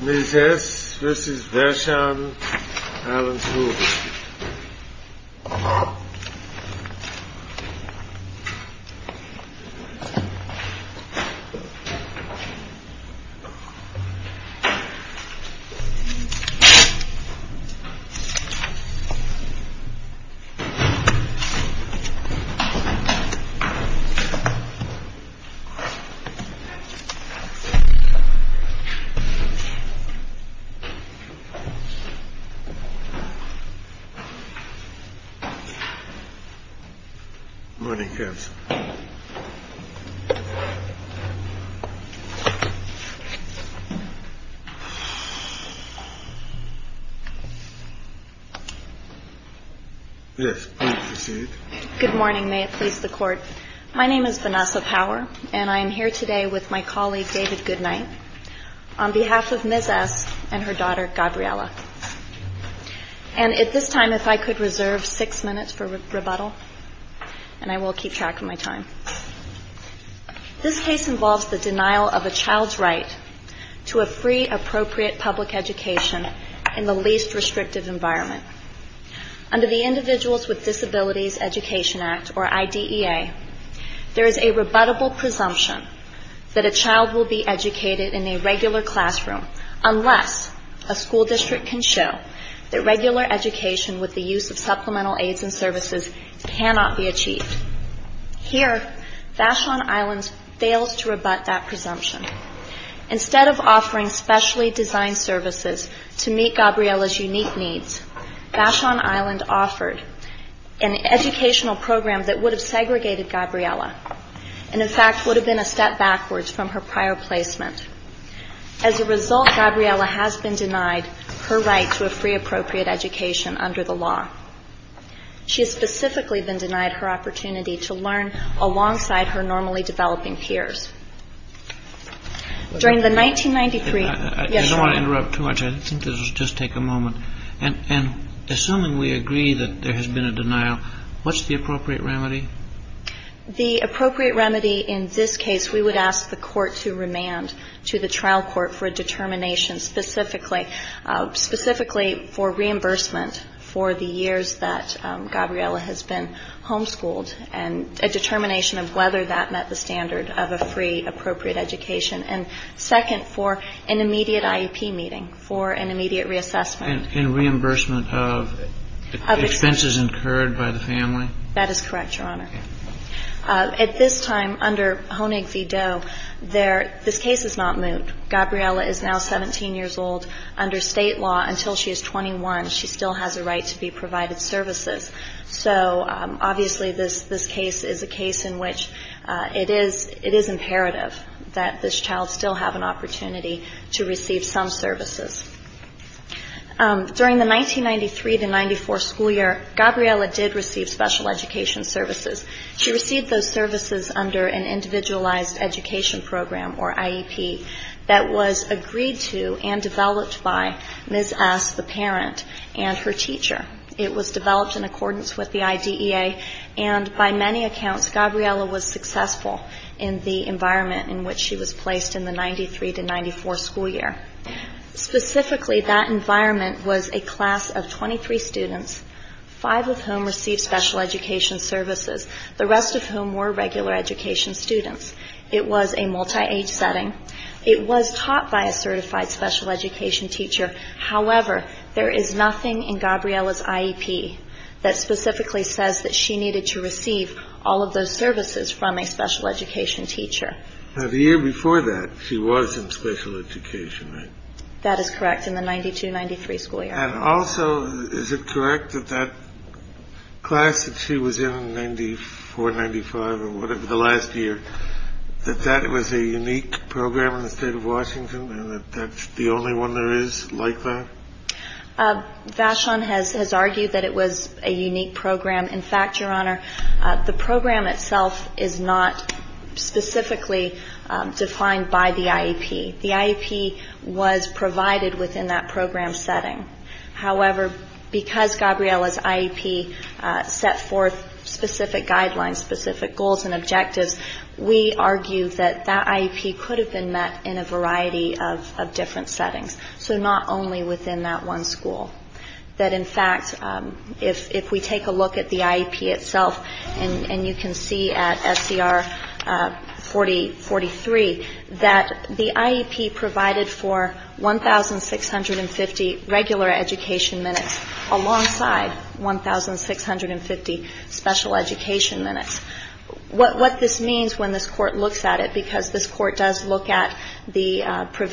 Mrs. S. v. Vashon Island School Good morning. May it please the Court. My name is Vanessa Power, and I am here today with my colleague, David Goodnight, on behalf of Mrs. S. and her daughter, Gabriella. And at this time, if I could reserve six minutes for rebuttal, and I will keep track of my time. This case involves the denial of a child's right to a free, appropriate public education in the least restrictive environment. Under the Individuals with Disabilities Education Act, or IDEA, there is a rebuttable presumption that a child will be educated in a regular classroom unless a school district can show that regular education with the use of supplemental aids and services cannot be achieved. Here, Vashon Island fails to rebut that presumption. Instead of offering specially designed services to meet Gabriella's unique needs, Vashon Island offered an educational program that would have segregated Gabriella, and in fact would have been a step backwards from her prior placement. As a result, Gabriella has been denied her right to a free, appropriate education under the law. She has specifically been denied her opportunity to learn alongside her normally developing peers. During the 1993- I don't want to interrupt too much. I think this will just take a moment. And assuming we agree that there has been a denial, what's the appropriate remedy? The appropriate remedy in this case, we would ask the court to remand to the trial court for a determination specifically for reimbursement for the years that Gabriella has been homeschooled, and a determination of whether that met the standard of a free, appropriate education. And second, for an immediate IEP meeting, for an immediate reassessment. And reimbursement of expenses incurred by the family? That is correct, Your Honor. At this time, under Honig v. Doe, this case is not moot. Gabriella is now 17 years old. Under State law, until she is 21, she still has a right to be provided services. So obviously, this case is a case in which it is imperative that this child still have an opportunity to receive some services. During the 1993-94 school year, Gabriella did receive special education services. She received those services under an Individualized Education Program, or IEP, that was agreed to and developed by Ms. S., the parent, and her teacher. It was developed in accordance with the IDEA, and by many accounts, Gabriella was successful in the environment in which she was placed in the 1993-94 school year. Specifically, that environment was a class of 23 students, 5 of whom received special education services, the rest of whom were regular education students. It was a multi-age setting. It was taught by a certified special education teacher. However, there is nothing in Gabriella's IEP that specifically says that she needed to receive all of those services from a special education teacher. Now, the year before that, she was in special education, right? That is correct, in the 92-93 school year. And also, is it correct that that class that she was in in 94-95, or whatever, the last year, that that was a unique program in the state of Washington, and that that's the only one there is like that? Vashon has argued that it was a unique program. In fact, Your Honor, the program itself is not specifically defined by the IEP. The IEP was provided within that program setting. However, because Gabriella's IEP set forth specific guidelines, specific goals and objectives, we argue that that IEP could have been met in a variety of different settings, so not only within that one school. That in fact, if we take a look at the IEP itself, and you can see at SCR 4043, that the IEP provided for 1,650 regular education minutes alongside 1,650 special education minutes. What this means when this Court looks at it, because this Court does look at the IEP,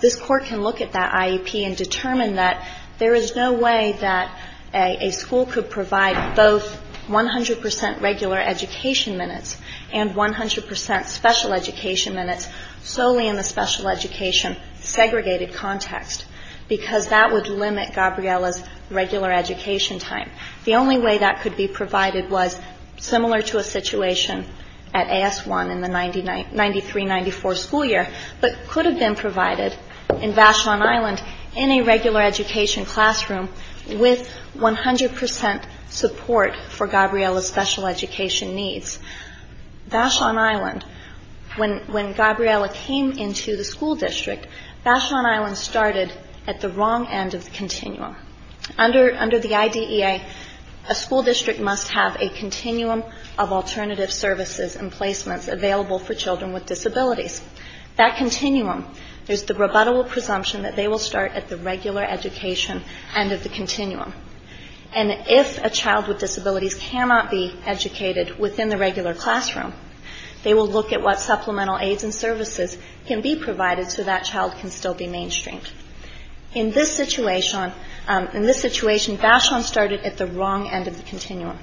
this Court can look at that IEP and determine that there is no way that a school could provide both 100 percent regular education minutes and 100 percent special education minutes solely in the special education segregated context, because that would limit Gabriella's regular education time. The only way that could be provided was similar to a situation at AS-1 in the 93-94 school year, but could have been provided in Vashon Island in a regular education classroom with 100 percent support for Gabriella's special education needs. Vashon Island, when Gabriella came into the school district, Vashon Island started at the wrong end of the continuum. Under the IDEA, a school district must have a continuum of alternative services and placements available for children with disabilities. That continuum, there's the rebuttable presumption that they will start at the regular education end of the continuum, and if a child with disabilities cannot be educated within the regular classroom, they will look at what supplemental aids and services can be provided so that child can still be mainstreamed. In this situation, Vashon started at the wrong end of the continuum.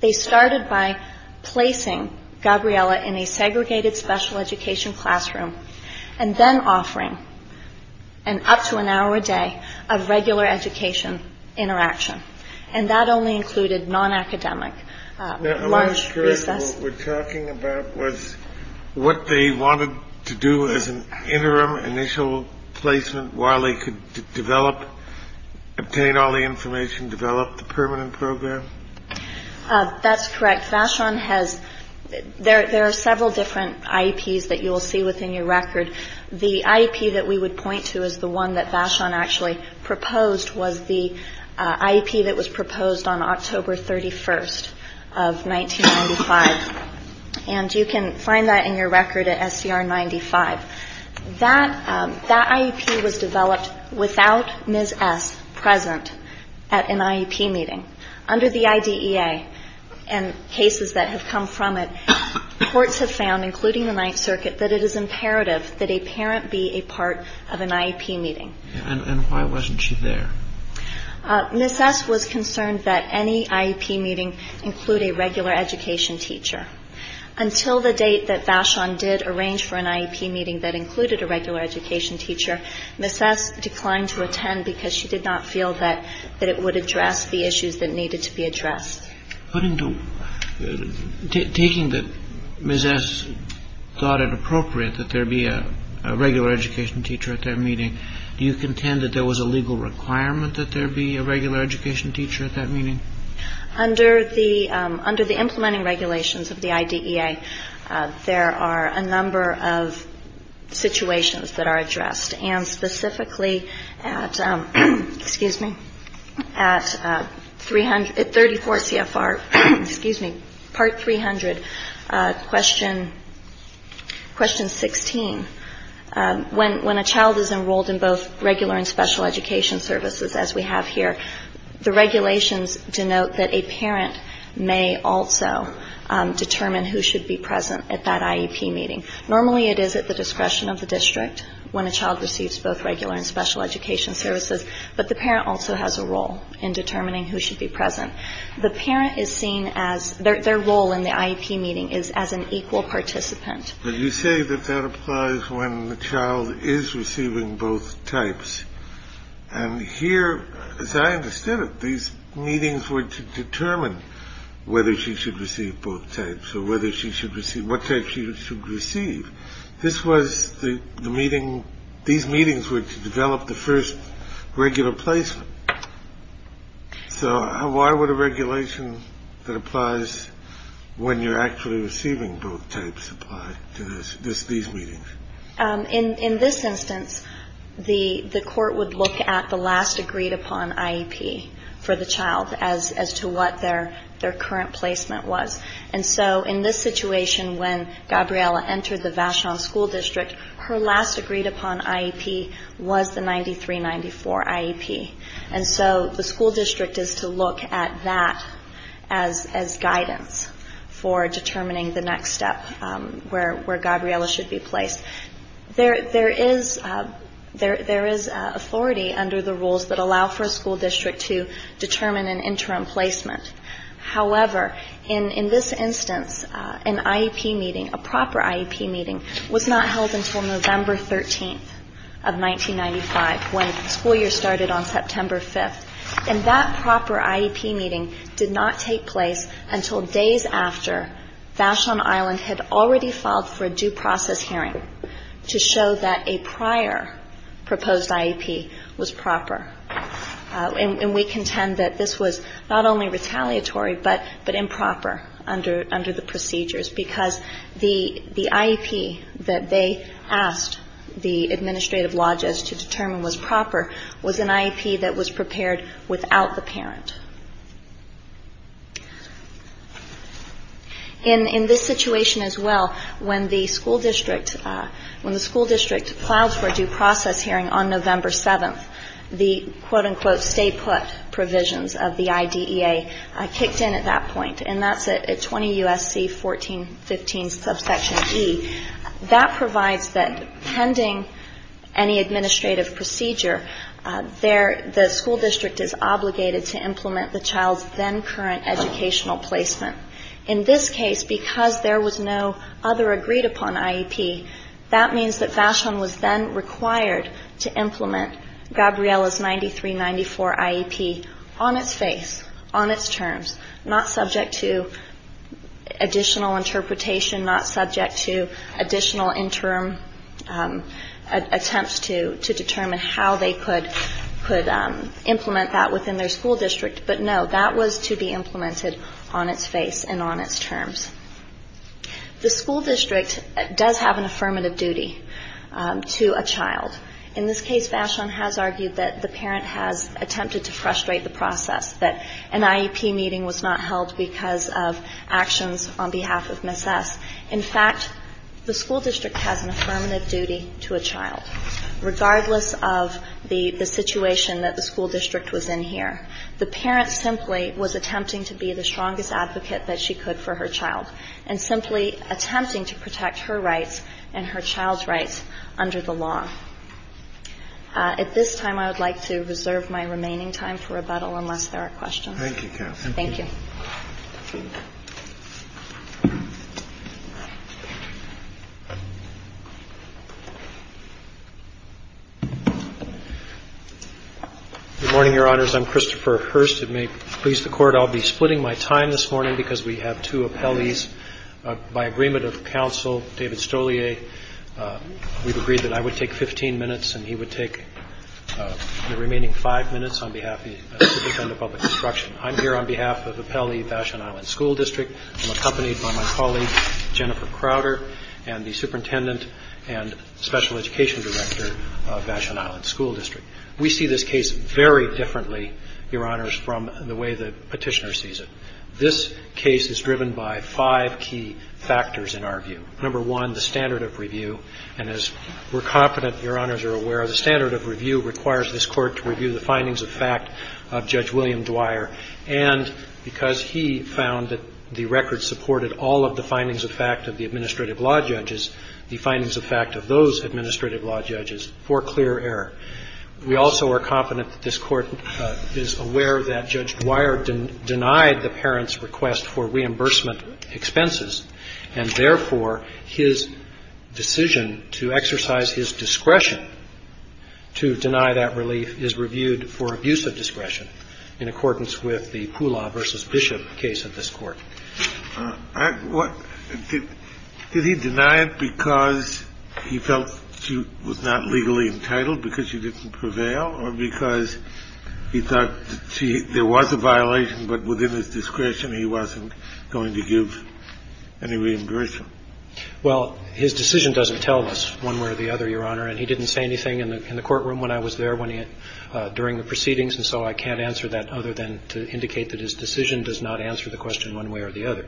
They started by placing Gabriella in a segregated special education classroom, and then offering an up to an hour a day of regular education interaction, and that only included non-academic lunch, recess. I wonder if what we're talking about was what they wanted to do as an interim initial placement while they could develop, obtain all the information, develop the permanent program? That's correct. Vashon has, there are several different IEPs that you will see within your record. The IEP that we would point to as the one that Vashon actually proposed was the IEP that was proposed on October 31st of 1995, and you can find that in your record at SCR 95. That IEP was developed without Ms. S. present at an IEP meeting. Under the IDEA, and cases that have come from it, courts have found, including the Ninth Circuit, that it is imperative that a parent be a part of an IEP meeting. And why wasn't she there? Ms. S. was concerned that any IEP meeting include a regular education teacher. Until the date that Vashon did arrange for an IEP meeting that included a regular education teacher, Ms. S. declined to attend because she did not feel that it would address the needs of the IEP. Taking that Ms. S. thought it appropriate that there be a regular education teacher at that meeting, do you contend that there was a legal requirement that there be a regular education teacher at that meeting? Under the implementing regulations of the IDEA, there are a number of situations that are addressed, and specifically at 34 CFR part 300 question 16, when a child is enrolled in both regular and special education services as we have here, the regulations denote that a parent may also determine who should be present at that IEP meeting. Normally it is at the discretion of the district when a child receives both regular and special education services, but the parent also has a role in determining who should be present. The parent is seen as, their role in the IEP meeting is as an equal participant. But you say that that applies when the child is receiving both types. And here, as I understood it, these meetings were to determine whether she should receive both types, or whether she should receive, what type she should receive. This was the meeting, these meetings were to develop the first regular placement. So why would a regulation that applies when you're actually receiving both types apply to these meetings? In this instance, the court would look at the last agreed upon IEP for the child as to what their current placement was. And so in this situation, when Gabriella entered the Vachon School District, her last agreed upon IEP was the 9394 IEP. And so the school district is to look at that as guidance for determining the next step where Gabriella should be placed. There is authority under the rules that allow for a school district to determine an interim placement. However, in this instance, an IEP meeting, a proper IEP meeting, was not held until November 13th of 1995, when school year started on September 5th. And that proper IEP meeting did not take place until days after Vachon Island had already filed for a due process hearing to show that a prior proposed IEP was proper. And we contend that this was not only retaliatory, but improper under the procedures, because the IEP that they asked the administrative law judge to determine was proper was an IEP that was prepared without the parent. In this situation as well, when the school district filed for a due process hearing on the quote-unquote stay put provisions of the IDEA, I kicked in at that point, and that's at 20 U.S.C. 1415 subsection E. That provides that pending any administrative procedure, the school district is obligated to implement the child's then current educational placement. In this case, because there was no other agreed upon IEP, that means that Vachon was then required to implement Gabriella's 9394 IEP on its face, on its terms, not subject to additional interpretation, not subject to additional interim attempts to determine how they could implement that within their school district. But no, that was to be implemented on its face and on its terms. The school district does have an affirmative duty to a child. In this case, Vachon has argued that the parent has attempted to frustrate the process, that an IEP meeting was not held because of actions on behalf of Ms. S. In fact, the school district has an affirmative duty to a child, regardless of the situation that the school district was in here. The has an affirmative duty to a child, and simply attempting to protect her rights and her child's rights under the law. At this time, I would like to reserve my remaining time for rebuttal unless there are questions. Thank you, counsel. Thank you. Good morning, Your Honors. I'm Christopher Hurst. It may please the Court, I'll be splitting my time this morning because we have two appellees. By agreement of counsel, David Stolier, we've agreed that I would take 15 minutes and he would take the remaining five minutes on behalf of the Superintendent of Public Instruction. I'm here on behalf of Appellee Vachon Island School District. I'm accompanied by my colleague, Jennifer Crowder, and the Superintendent and Special Education Director of Vachon Island School District. We see this case very differently, Your Honors, from the way the Petitioner sees it. This case is driven by five key factors, in our view. Number one, the standard of review, and as we're confident Your Honors are aware, the standard of review requires this Court to review the findings of fact of Judge William Dwyer, and because he found that the record supported all of the findings of fact of the administrative law judges, the findings of fact of those administrative law judges, for clear error. We also are confident that this Court is aware that Judge Dwyer denied the parent's request for reimbursement expenses, and therefore, his decision to exercise his discretion to deny that relief is reviewed for abuse of discretion in accordance with the Poolaw v. Bishop case of this Court. Did he deny it because he felt she was not legally entitled, because she didn't prevail, or because he thought there was a violation, but within his discretion he wasn't going to give any reimbursement? Well, his decision doesn't tell us one way or the other, Your Honor, and he didn't say anything in the courtroom when I was there during the proceedings, and so I can't answer that other than to indicate that his decision does not answer the question one way or the other.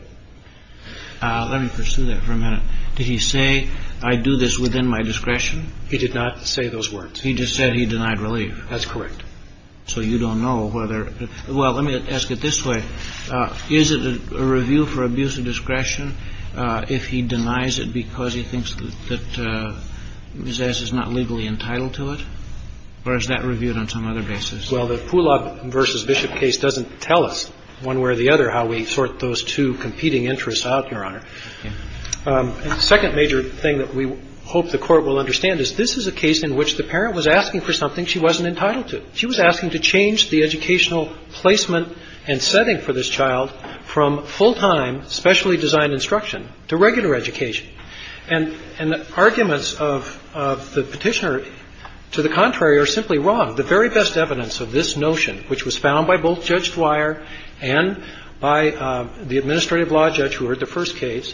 Let me pursue that for a minute. Did he say, I do this within my discretion? He did not say those words. He just said he denied relief. That's correct. So you don't know whether – well, let me ask it this way. Is it a review for abuse of discretion if he denies it because he thinks that Ms. S. is not legally entitled to it, or is that reviewed on some other basis? Well, the Poolaw v. Bishop case doesn't tell us one way or the other how we sort those two competing interests out, Your Honor. The second major thing that we hope the Court will understand is this is a case in which the parent was asking for something she wasn't entitled to. She was asking to change the educational placement and setting for this child from full-time, specially designed instruction to regular education. And the arguments of the Petitioner to the contrary are simply wrong. The very best evidence of this notion, which was found by both Judge Dwyer and by the administrative law judge who heard the first case,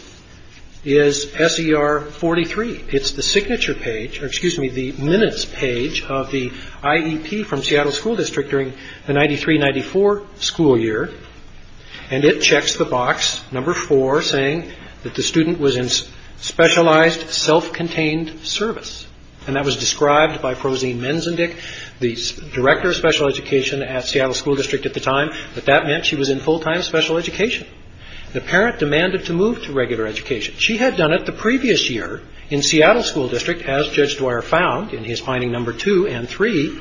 is SER 43. It's the signature page – or excuse me, the minutes page of the IEP from Seattle School District during the 93-94 school year – and it checks the box, number 4, saying that the student was in specialized, self-contained service. And that was described by Prozine Menzendick, the director of special education at Seattle School District at the time, that that meant she was in full-time special education. The parent demanded to move to regular education. She had done it the previous year in Seattle School District, as Judge Dwyer found in his finding number 2 and 3.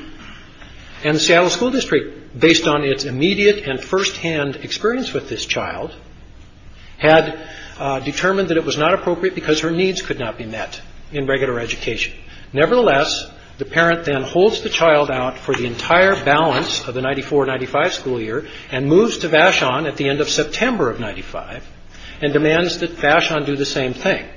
And the Seattle School District, based on its immediate and first-hand experience with this child, had determined that it was not appropriate because her needs could not be met in regular education. Nevertheless, the parent then holds the child out for the entire balance of the 94-95 school year and moves to Vashon at the end of September of 95 and demands that Vashon do the same thing.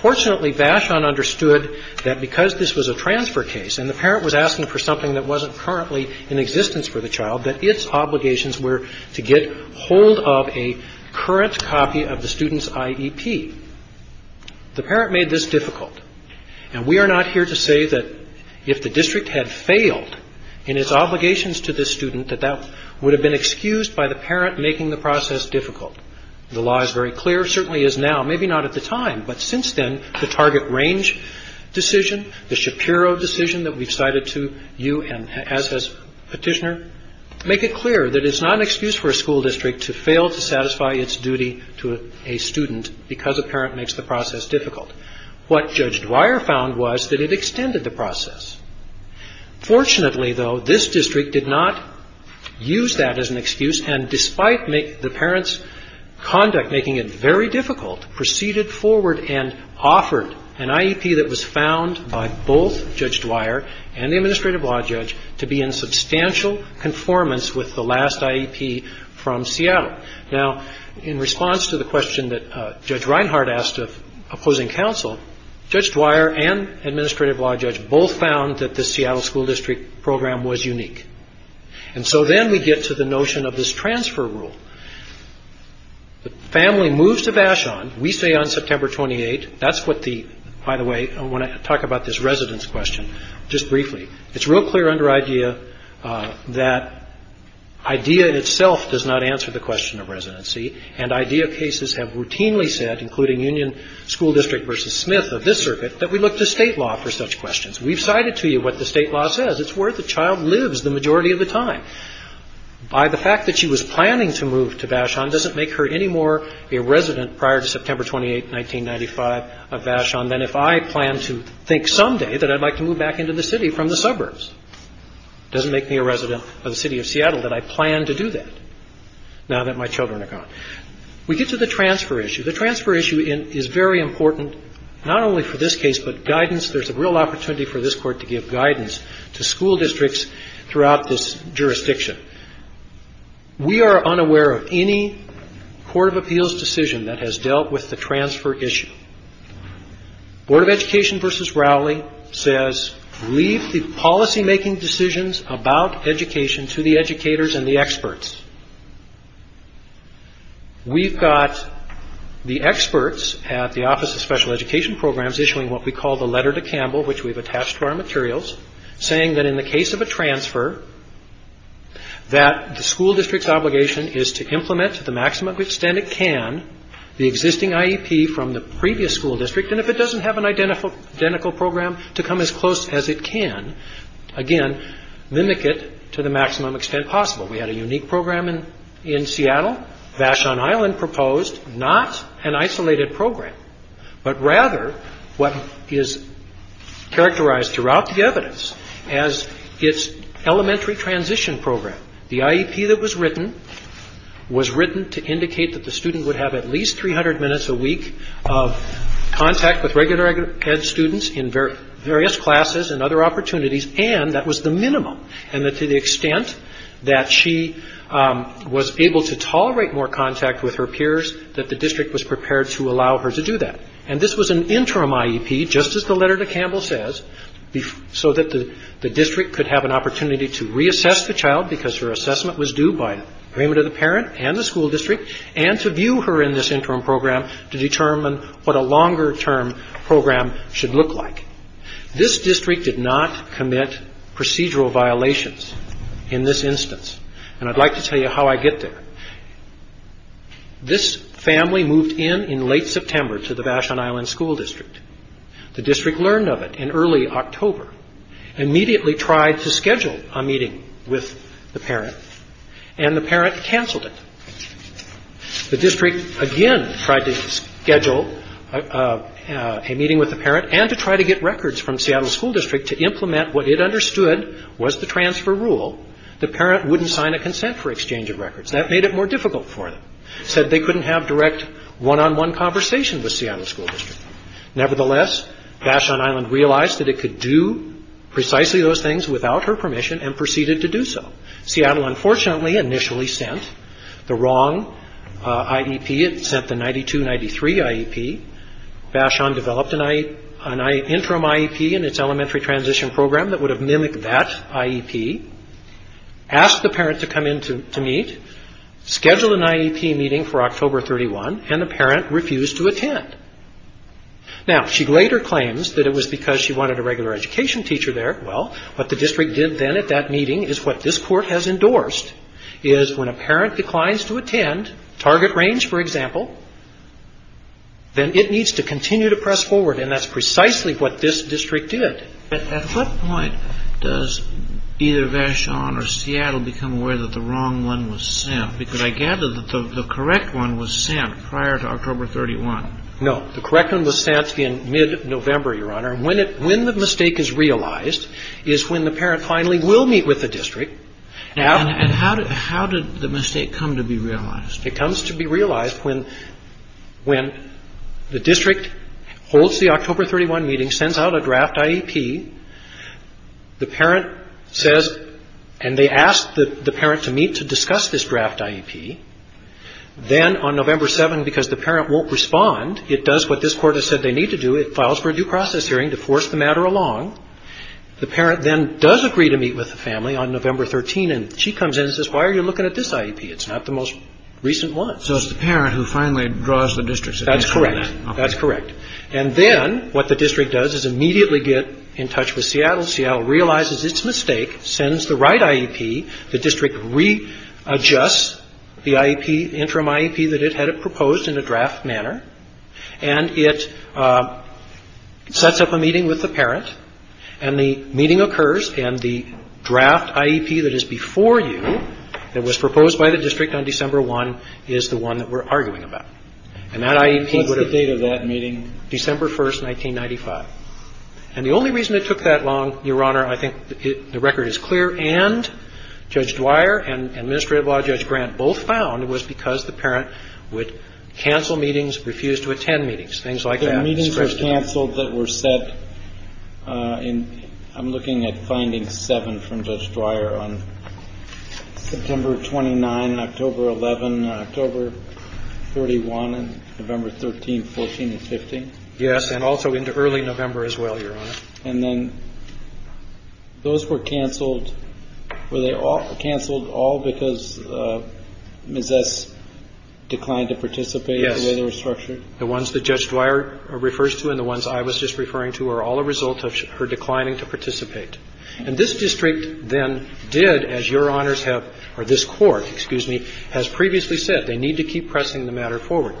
Fortunately, Vashon understood that because this was a transfer case and the parent was asking for something that wasn't currently in existence for the child, that its obligations were to get hold of a current copy of the student's IEP. The parent made this difficult. And we are not here to say that if the district had failed in its obligations to this student, that that would have been excused by the parent making the process difficult. The law is very clear, certainly is now, maybe not at the time, but since then, the target range decision, the Shapiro decision that we've cited to you and as has Petitioner, make it clear that it's not an excuse for a school district to fail to satisfy its duty to a student because a parent makes the process difficult. What Judge Dwyer found was that it extended the process. Fortunately, though, this district did not use that as an excuse and despite the parent's conduct making it very difficult, proceeded forward and offered an IEP that was found by both Judge Dwyer and the Administrative Law Judge to be in substantial conformance with the last IEP from Seattle. Now, in response to the question that Judge Reinhart asked of opposing counsel, Judge Dwyer and Administrative Law Judge both found that the Seattle school district program was unique. And so then we get to the notion of this transfer rule. The family moves to Vashon, we stay on September 28th. That's what the, by the way, I want to talk about this residence question just briefly. It's real clear under IDEA that IDEA itself does not answer the question of residency and IDEA cases have routinely said, including Union School District versus Smith of this circuit, that we look to state law for such questions. We've cited to you what the state law says. It's where the child lives the majority of the time. By the fact that she was planning to move to Vashon doesn't make her anymore a resident prior to September 28th, 1995 of Vashon than if I plan to think someday that I'd like to move back into the city from the suburbs. Doesn't make me a resident of the city of Seattle that I plan to do that now that my children are gone. We get to the transfer issue. The transfer issue is very important not only for this case but guidance. There's a real opportunity for this court to give guidance to school districts throughout this jurisdiction. We are unaware of any court of appeals decision that has dealt with the transfer issue. Board of Education versus Rowley says leave the policymaking decisions about education to the educators and the experts. We've got the experts at the Office of Special Education Programs issuing what we call the letter to Campbell, which we've attached to our materials, saying that in the case of a transfer that the school district's obligation is to implement to the maximum extent it can the existing IEP from the previous school district. And if it doesn't have an identical program to come as close as it can, again, mimic it to the maximum extent possible. We had a unique program in Seattle. Vashon Island proposed not an isolated program. But rather what is characterized throughout the evidence as its elementary transition program. The IEP that was written was written to indicate that the student would have at least 300 minutes a week of contact with regular ed students in various classes and other opportunities. And that was the minimum. And to the extent that she was able to tolerate more contact with her peers, that the district was prepared to allow her to do that. And this was an interim IEP, just as the letter to Campbell says, so that the district could have an opportunity to reassess the child, because her assessment was due by agreement of the parent and the school district, and to view her in this interim program to determine what a longer term program should look like. This district did not commit procedural violations in this instance. And I'd like to tell you how I get there. This family moved in in late September to the Vashon Island School District. The district learned of it in early October. Immediately tried to schedule a meeting with the parent. And the parent canceled it. The district again tried to schedule a meeting with the parent and to try to get records from Seattle School District to implement what it understood was the transfer rule. The parent wouldn't sign a consent for exchange of records. That made it more difficult for them. Said they couldn't have direct one-on-one conversation with Seattle School District. Nevertheless, Vashon Island realized that it could do precisely those things without her permission and proceeded to do so. Seattle, unfortunately, initially sent the wrong IEP. It sent the 92-93 IEP. Vashon developed an interim IEP in its elementary transition program that would have mimicked that IEP. Asked the parent to come in to meet. Scheduled an IEP meeting for October 31. And the parent refused to attend. Now, she later claims that it was because she wanted a regular education teacher there. Well, what the district did then at that meeting is what this court has endorsed is when a parent declines to attend, target range, for example, then it needs to continue to press forward. And that's precisely what this district did. At what point does either Vashon or Seattle become aware that the wrong one was sent? Because I gather that the correct one was sent prior to October 31. No. The correct one was sent in mid-November, Your Honor. When the mistake is realized is when the parent finally will meet with the district. And how did the mistake come to be realized? It comes to be realized when the district holds the October 31 meeting, sends out a draft IEP. The parent says, and they ask the parent to meet to discuss this draft IEP. Then on November 7, because the parent won't respond, it does what this court has said they need to do. It files for a due process hearing to force the matter along. The parent then does agree to meet with the family on November 13. And she comes in and says, why are you looking at this IEP? It's not the most recent one. So it's the parent who finally draws the district's attention to that. That's correct. And then what the district does is immediately get in touch with Seattle. Seattle realizes its mistake, sends the right IEP. The district readjusts the interim IEP that it had proposed in a draft manner. And it sets up a meeting with the parent. And the meeting occurs. And the draft IEP that is before you that was proposed by the district on December 1 is the one that we're arguing about. And that IEP would have... What's the date of that meeting? December 1, 1995. And the only reason it took that long, Your Honor, I think the record is clear, and Judge Dwyer and Administrative Law Judge Grant both found it was because the parent would cancel meetings, refuse to attend meetings, things like that. The meetings were canceled that were set in, I'm looking at finding seven from Judge Dwyer on September 29, October 11, October 41, November 13, 14, and 15. Yes, and also into early November as well, Your Honor. And then those were canceled, were they all canceled all because Ms. S. declined to participate in the way they were structured? Yes. The ones that Judge Dwyer refers to and the ones I was just referring to are all a result of her declining to participate. And this district then did, as Your Honors have... Or this court, excuse me, has previously said they need to keep pressing the matter forward.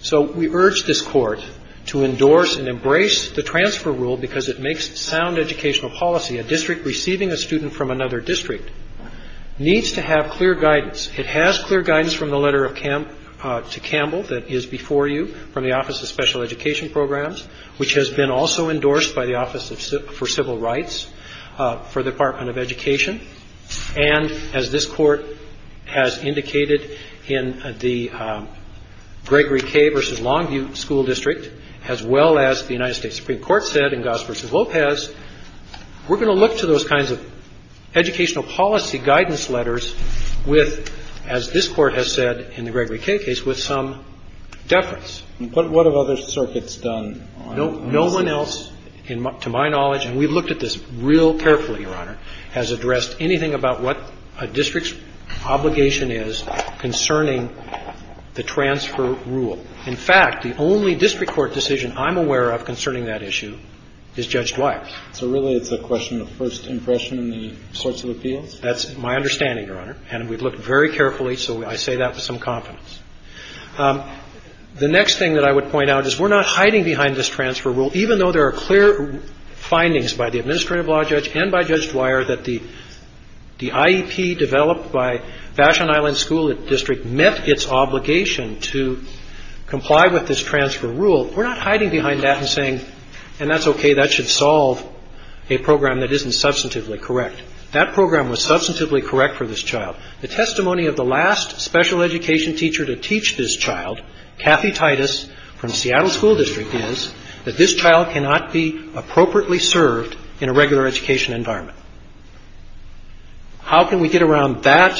So we urge this court to endorse and embrace the transfer rule because it makes sound educational policy. A district receiving a student from another district needs to have clear guidance. It has clear guidance from the letter to Campbell that is before you from the Office of Special Education Programs, which has been also endorsed by the Office for Civil Rights for the Department of Education. And as this court has indicated in the Gregory K. versus Longview School District, as well as the United States Supreme Court said in Goss versus Lopez, we're going to look to those kinds of educational policy guidance letters with, as this court has said in the Gregory K. case, with some deference. But what have other circuits done? No one else, to my knowledge, and we've looked at this real carefully, Your Honor, has addressed anything about what a district's obligation is concerning the transfer rule. In fact, the only district court decision I'm aware of concerning that issue is Judge Dwyer's. So really it's a question of first impression and the sorts of appeals? That's my understanding, Your Honor. And we've looked very carefully, so I say that with some confidence. The next thing that I would point out is we're not hiding behind this transfer rule, even though there are clear findings by the Administrative Law Judge and by Judge Dwyer that the IEP developed by Vashon Island School District met its obligation to comply with this transfer rule. We're not hiding behind that and saying, and that's okay, that should solve a program that isn't substantively correct. That program was substantively correct for this child. The testimony of the last special education teacher to teach this child, Kathy Titus from Seattle School District, is that this child cannot be appropriately served in a regular education environment. How can we get around that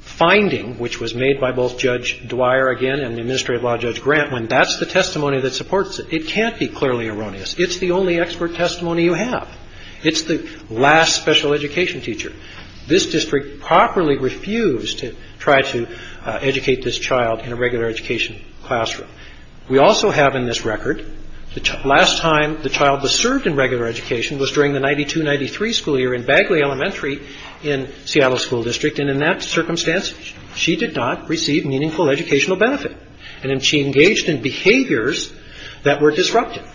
finding, which was made by both Judge Dwyer, again, and the Administrative Law Judge Grant, when that's the testimony that supports it? It can't be clearly erroneous. It's the only expert testimony you have. It's the last special education teacher. This district properly refused to try to educate this child in a regular education classroom. We also have in this record, the last time the child was served in regular education was during the 92-93 school year in Bagley Elementary in Seattle School District, and in that circumstance, she did not receive meaningful educational benefit. And she engaged in behaviors that were disruptive.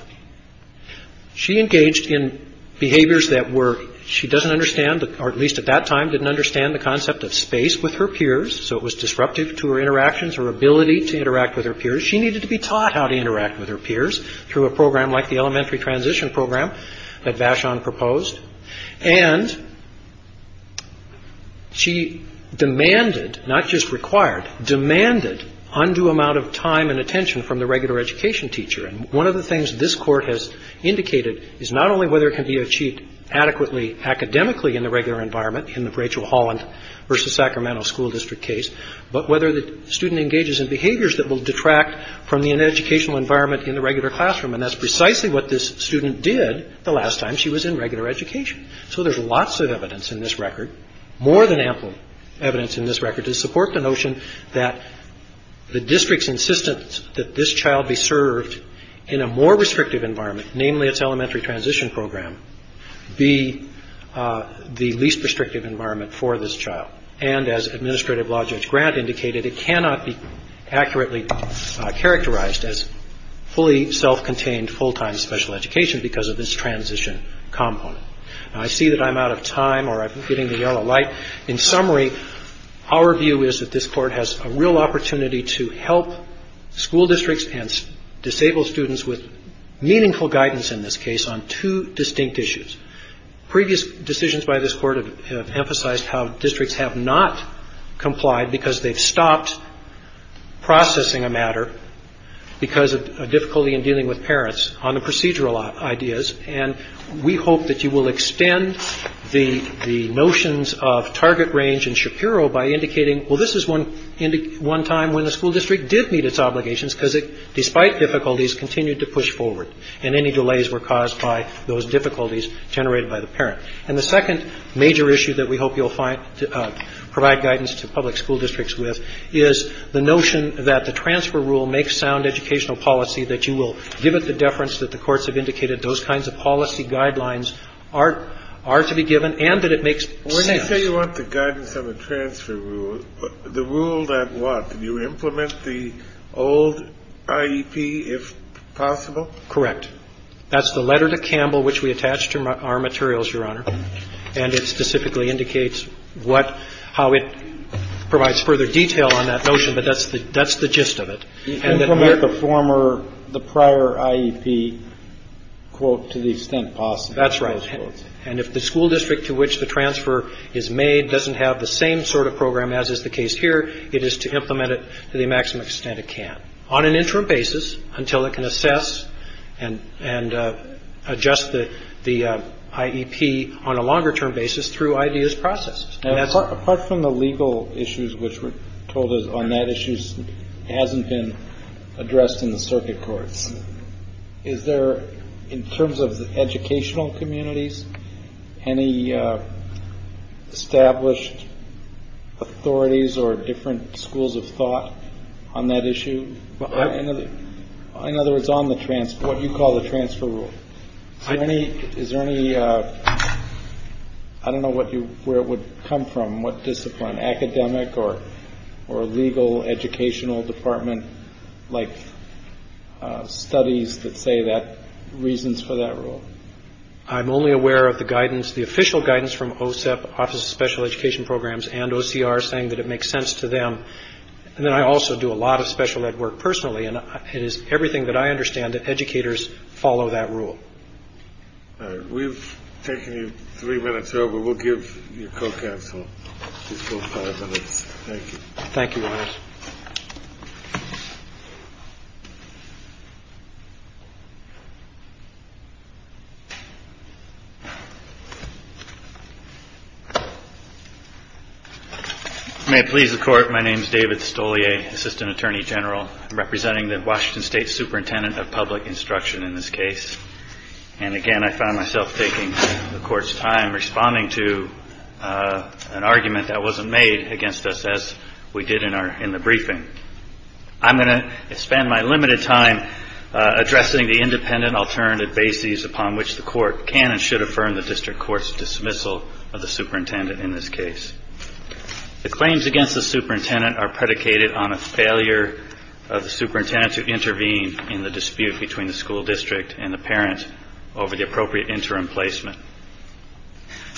She engaged in behaviors that were, she doesn't understand, or at least at that time, didn't understand the concept of space with her peers, so it was disruptive to her interactions, her ability to interact with her peers. She needed to be taught how to interact with her peers through a program like the elementary transition program that Vashon proposed. And she demanded, not just required, demanded undue amount of time and attention from the regular education teacher. And one of the things this court has indicated is not only whether it can be achieved adequately academically in the regular environment, in the Rachel Holland versus Sacramento School District case, but whether the student engages in behaviors that will detract from the educational environment in the regular classroom. And that's precisely what this student did the last time she was in regular education. So there's lots of evidence in this record, more than ample evidence in this record, to support the notion that the district's insistence that this child be in a more restrictive environment, namely its elementary transition program, be the least restrictive environment for this child. And as Administrative Law Judge Grant indicated, it cannot be accurately characterized as fully self-contained, full-time special education because of this transition component. Now, I see that I'm out of time or I'm hitting the yellow light. In summary, our view is that this court has a real opportunity to help school students with meaningful guidance in this case on two distinct issues. Previous decisions by this court have emphasized how districts have not complied because they've stopped processing a matter because of difficulty in dealing with parents on the procedural ideas. And we hope that you will extend the notions of target range in Shapiro by indicating, well, this is one time when the school district did meet its obligations because it, despite difficulties, continued to push forward and any delays were caused by those difficulties generated by the parent. And the second major issue that we hope you'll provide guidance to public school districts with is the notion that the transfer rule makes sound educational policy, that you will give it the deference that the courts have indicated those kinds of policy guidelines are to be given and that it makes sense. I'll tell you what the guidance on the transfer rule, the rule that what? You implement the old IEP if possible? Correct. That's the letter to Campbell which we attached to our materials, Your Honor. And it specifically indicates what, how it provides further detail on that notion, but that's the gist of it. You implement the former, the prior IEP, quote, to the extent possible. That's right. And if the school district to which the transfer is made doesn't have the same sort of program as is the case here, it is to implement it to the maximum extent it can on an interim basis until it can assess and adjust the IEP on a longer term basis through ideas processed. Apart from the legal issues which were told on that issue hasn't been addressed in the circuit courts. Is there, in terms of educational communities, any established authorities or different schools of thought on that issue? In other words, on the transfer, what you call the transfer rule. Is there any, I don't know where it would come from, what discipline, academic or legal educational department like studies that say that reasons for that rule? I'm only aware of the guidance, the official guidance from OSEP, Office of Special Education Programs, and OCR saying that it makes sense to them. And then I also do a lot of special ed work personally and it is everything that I understand that educators follow that rule. We've taken you three minutes over. We'll give your co-counsel just those five minutes. Thank you. Thank you, Your Honor. May it please the Court, my name is David Stolje, Assistant Attorney General representing the Washington State Superintendent of Public Instruction in this case. And again, I found myself taking the Court's time responding to an argument that wasn't made against us as we did in the briefing. I'm going to spend my limited time addressing the independent alternative bases upon which the Court can and should affirm the district court's dismissal of the superintendent in this case. The claims against the superintendent are predicated on a failure of the parent over the appropriate interim placement.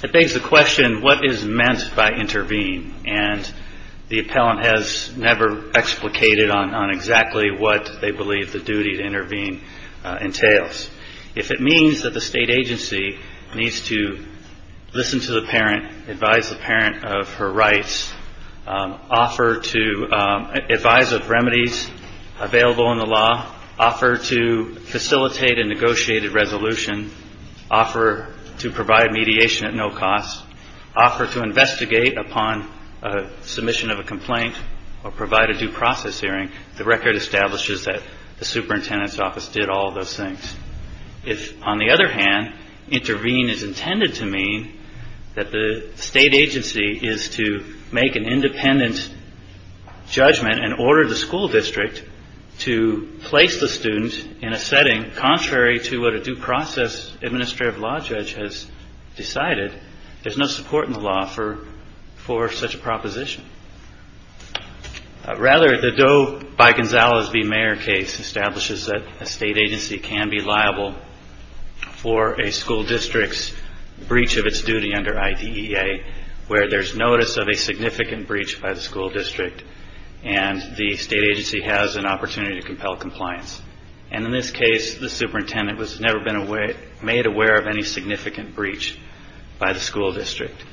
It begs the question, what is meant by intervene? And the appellant has never explicated on exactly what they believe the duty to intervene entails. If it means that the state agency needs to listen to the parent, advise the parent of her rights, offer to advise of remedies available in the law, offer to facilitate a negotiated resolution, offer to provide mediation at no cost, offer to investigate upon submission of a complaint or provide a due process hearing, the record establishes that the superintendent's office did all of those things. If, on the other hand, intervene is intended to mean that the state agency is to make an independent judgment and order the school district to place the student in a setting contrary to what a due process administrative law judge has decided, there's no support in the law for such a proposition. Rather, the Doe v. Gonzalez v. Mayer case establishes that a state agency can be liable for a school district's breach of its duty under IDEA where there's notice of a significant breach by the school district and the state agency has an opportunity to compel compliance. And in this case, the superintendent was never made aware of any significant breach by the school district.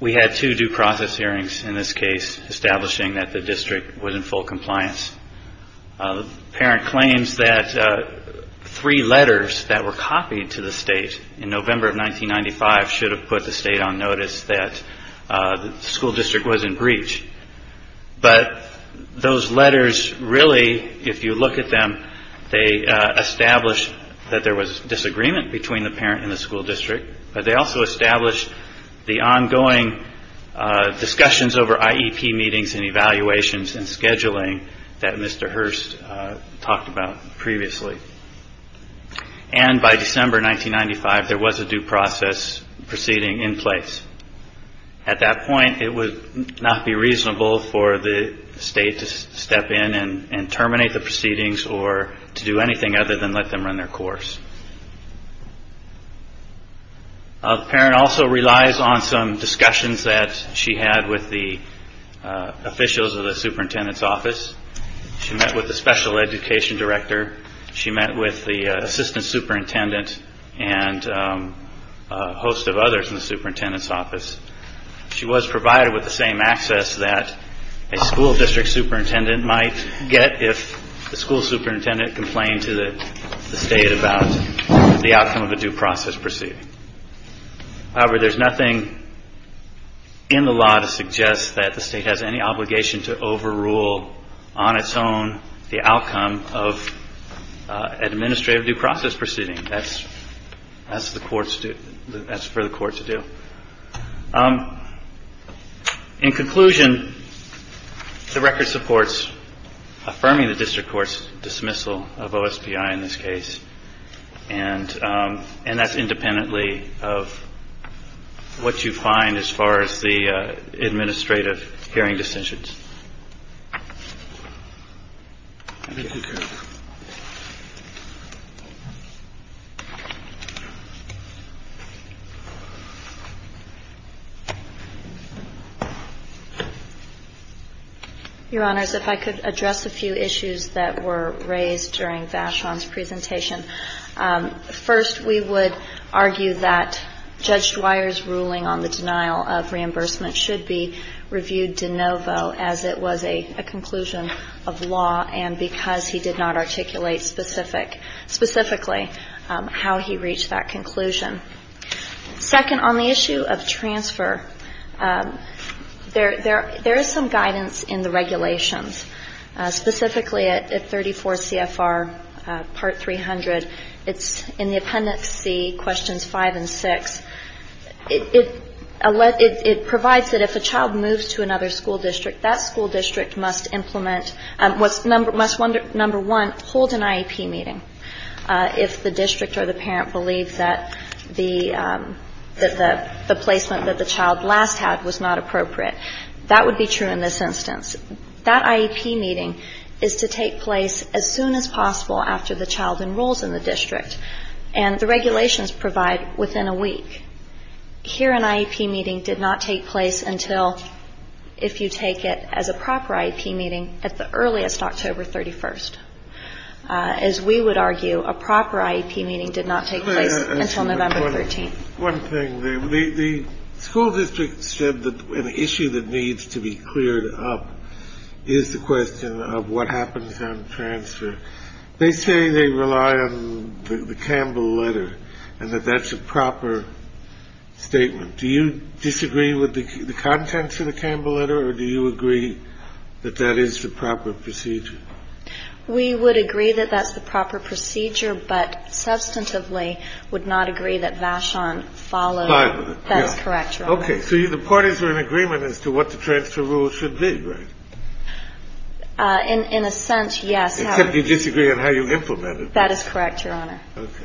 We had two due process hearings in this case establishing that the district was in full compliance. The parent claims that three letters that were copied to the state in November of 1995 should have put the state on notice that the school district was in breach. But those letters really, if you look at them, they established that there was disagreement between the parent and the school district, but they also established the ongoing discussions over IEP meetings and evaluations and that Mr. Hurst talked about previously. And by December 1995, there was a due process proceeding in place. At that point, it would not be reasonable for the state to step in and terminate the proceedings or to do anything other than let them run their course. The parent also relies on some discussions that she had with the officials of the superintendent's office. She met with the special education director. She met with the assistant superintendent and a host of others in the superintendent's office. She was provided with the same access that a school district superintendent might get if the school superintendent complained to the state about the outcome of a due process proceeding. However, there's nothing in the law to suggest that the state has any overrule on its own the outcome of administrative due process proceeding. That's for the court to do. In conclusion, the record supports affirming the district court's dismissal of OSPI in this case. And that's independently of what you find as far as the administrative hearing decisions. Let me conclude. Your Honors, if I could address a few issues that were raised during Vashon's presentation. First, we would argue that Judge Dwyer's ruling on the denial of reimbursement should be reviewed de novo as it was a conclusion of law and because he did not articulate specifically how he reached that conclusion. Second, on the issue of transfer, there is some guidance in the regulations, specifically at 34 CFR Part 300. It's in the Appendix C, Questions 5 and 6. It provides that if a child moves to another school district, that school district must implement, must, number one, hold an IEP meeting if the district or the parent believes that the placement that the child last had was not appropriate. That would be true in this instance. That IEP meeting is to take place as soon as possible after the child enrolls in the Here, an IEP meeting did not take place until, if you take it as a proper IEP meeting, at the earliest, October 31st. As we would argue, a proper IEP meeting did not take place until November 13th. One thing, the school district said that an issue that needs to be cleared up is the question of what happens on transfer. The question is whether the school district agrees with the content of the Campbell Letter. They say they rely on the Campbell Letter and that that's a proper statement. Do you disagree with the contents of the Campbell Letter, or do you agree that that is the proper procedure? We would agree that that's the proper procedure, but substantively would not agree that Vashon followed. That's correct. Okay. So the parties are in agreement as to what the transfer rule should be, right? In a sense, yes. Except you disagree on how you implement it. That is correct, Your Honor. Okay.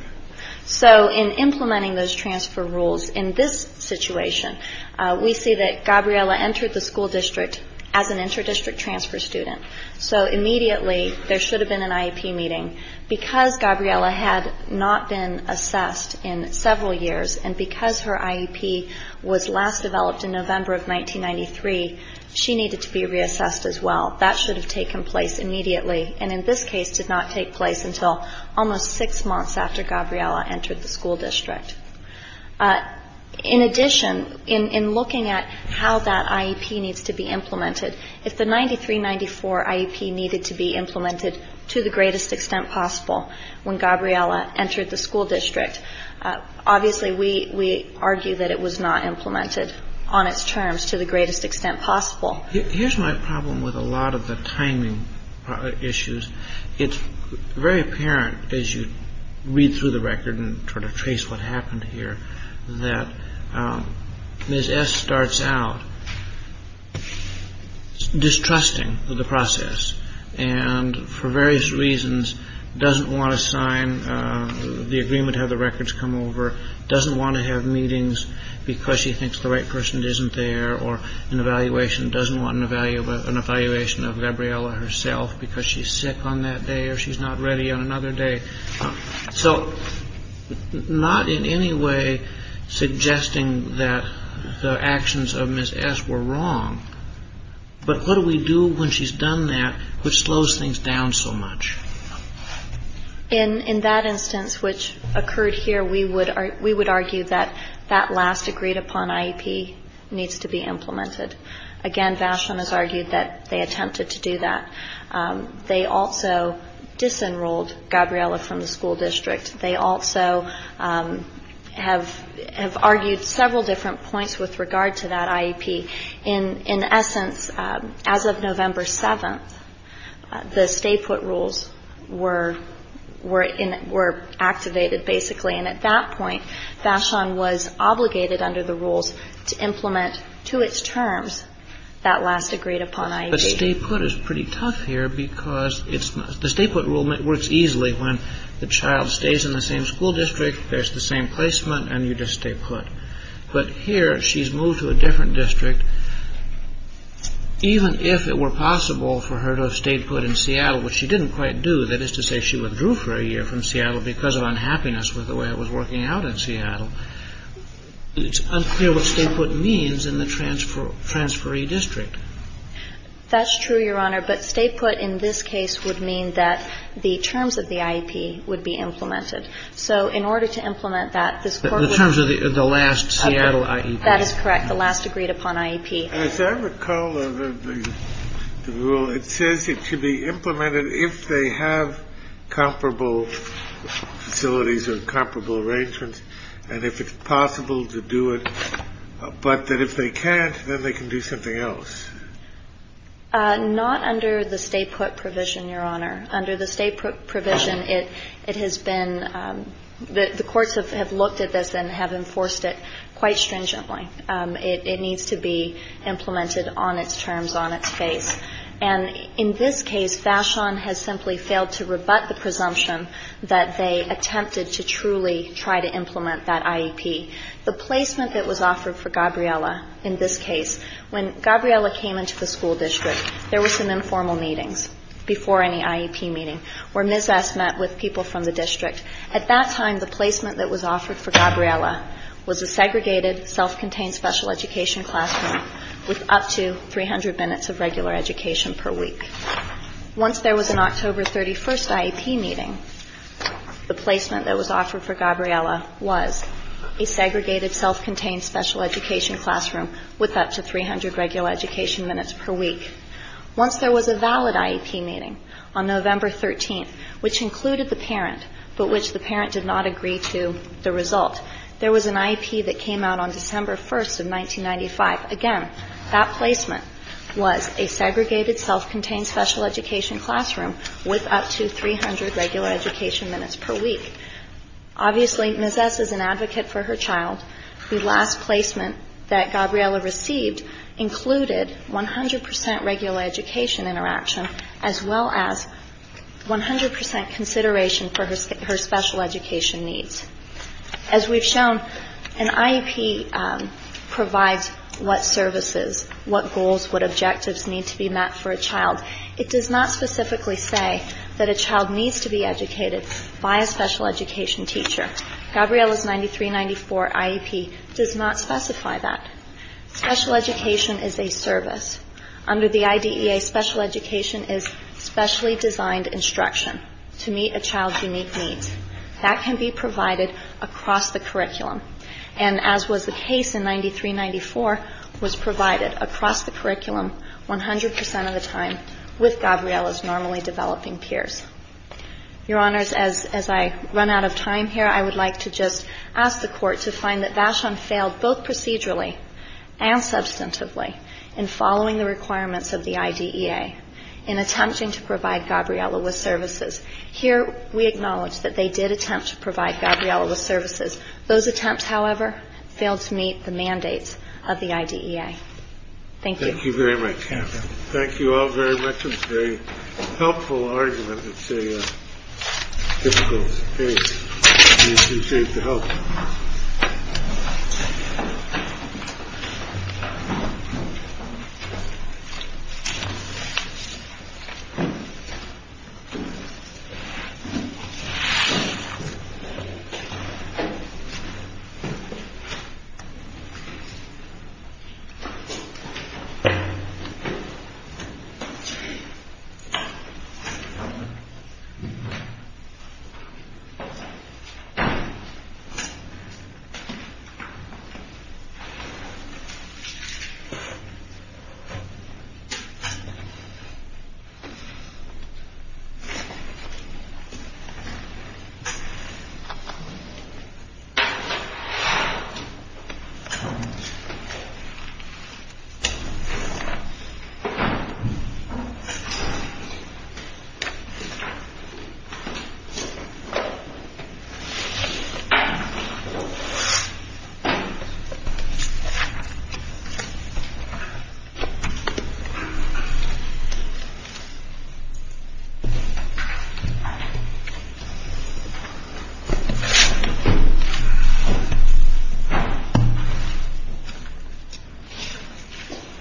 So in implementing those transfer rules in this situation, we see that Gabriela entered the school district as an inter-district transfer student. So immediately there should have been an IEP meeting. Because Gabriela had not been assessed in several years, and because her IEP was last developed in November of 1993, she needed to be reassessed as well. That should have taken place immediately, and in this case did not take place until almost six months after Gabriela entered the school district. In addition, in looking at how that IEP needs to be implemented, if the 9394 IEP needed to be implemented to the greatest extent possible when Gabriela entered the school district, obviously we argue that it was not implemented on its terms to the greatest extent possible. Here's my problem with a lot of the timing issues. It's very apparent as you read through the record and sort of trace what happened here, that Ms. S. starts out distrusting of the process, and for various reasons doesn't want to sign the agreement to have the records come over, doesn't want to have meetings because she thinks the right person isn't there, or doesn't want an evaluation of Gabriela herself because she's sick on that day or she's not ready on another day. So not in any way suggesting that the actions of Ms. S. were wrong, but what do we do when she's done that which slows things down so much? In that instance which occurred here, we would argue that that last agreed upon IEP needs to be implemented. Again, Vashon has argued that they attempted to do that. They also disenrolled Gabriela from the school district. They also have argued several different points with regard to that IEP. In essence, as of November 7th, the stay-put rules were activated basically, and at that point Vashon was obligated under the rules to implement to its terms that last agreed upon IEP. But stay-put is pretty tough here because the stay-put rule works easily when the child stays in the same school district, there's the same placement, and you just stay put. But here she's moved to a different district. Even if it were possible for her to stay put in Seattle, which she didn't quite do, that is to say she withdrew for a year from Seattle because of unhappiness with the way it was working out in Seattle, it's unclear what stay-put means in the transferee district. That's true, Your Honor, but stay-put in this case would mean that the terms of the IEP would be implemented. So in order to implement that, this court would be able to do that. The terms of the last Seattle IEP. That is correct, the last agreed upon IEP. As I recall of the rule, it says it should be implemented if they have comparable facilities or comparable arrangements, and if it's possible to do it, but that if they can't, then they can do something else. Not under the stay-put provision, Your Honor. Under the stay-put provision, it has been the courts have looked at this and have enforced it quite stringently. It needs to be implemented on its terms, on its face. And in this case, Vashon has simply failed to rebut the presumption that they attempted to truly try to implement that IEP. The placement that was offered for Gabriella in this case, when Gabriella came into the school district, there were some informal meetings before any IEP meeting where Ms. S. met with people from the district. At that time, the placement that was offered for Gabriella was a segregated, self-contained special education classroom with up to 300 minutes of regular education per week. Once there was an October 31st IEP meeting, the placement that was offered for Gabriella was a segregated, self-contained special education classroom with up to 300 regular education minutes per week. Once there was a valid IEP meeting on November 13th, which included the parent, but which the parent did not agree to the result, there was an IEP that came out on December 1st of 1995. Again, that placement was a segregated, self-contained special education classroom with up to 300 regular education minutes per week. Obviously, Ms. S. is an advocate for her child. The last placement that Gabriella received included 100% regular education interaction, as well as 100% consideration for her special education needs. As we've shown, an IEP provides what services, what goals, what objectives need to be met for a child. It does not specifically say that a child needs to be educated by a special education teacher. Gabriella's 9394 IEP does not specify that. Special education is a service. Under the IDEA, special education is specially designed instruction to meet a child's unique needs. That can be provided across the curriculum, and as was the case in 9394, was provided across the curriculum 100% of the time with Gabriella's normally developing peers. Your Honors, as I run out of time here, I would like to just ask the Court to find that Vashon failed both procedurally and substantively in following the requirements of the IDEA in attempting to provide Gabriella with services. Here, we acknowledge that they did attempt to provide Gabriella with services. Those attempts, however, failed to meet the mandates of the IDEA. Thank you. Thank you very much, Catherine. Thank you all very much. Very helpful argument. Thank you. Thank you.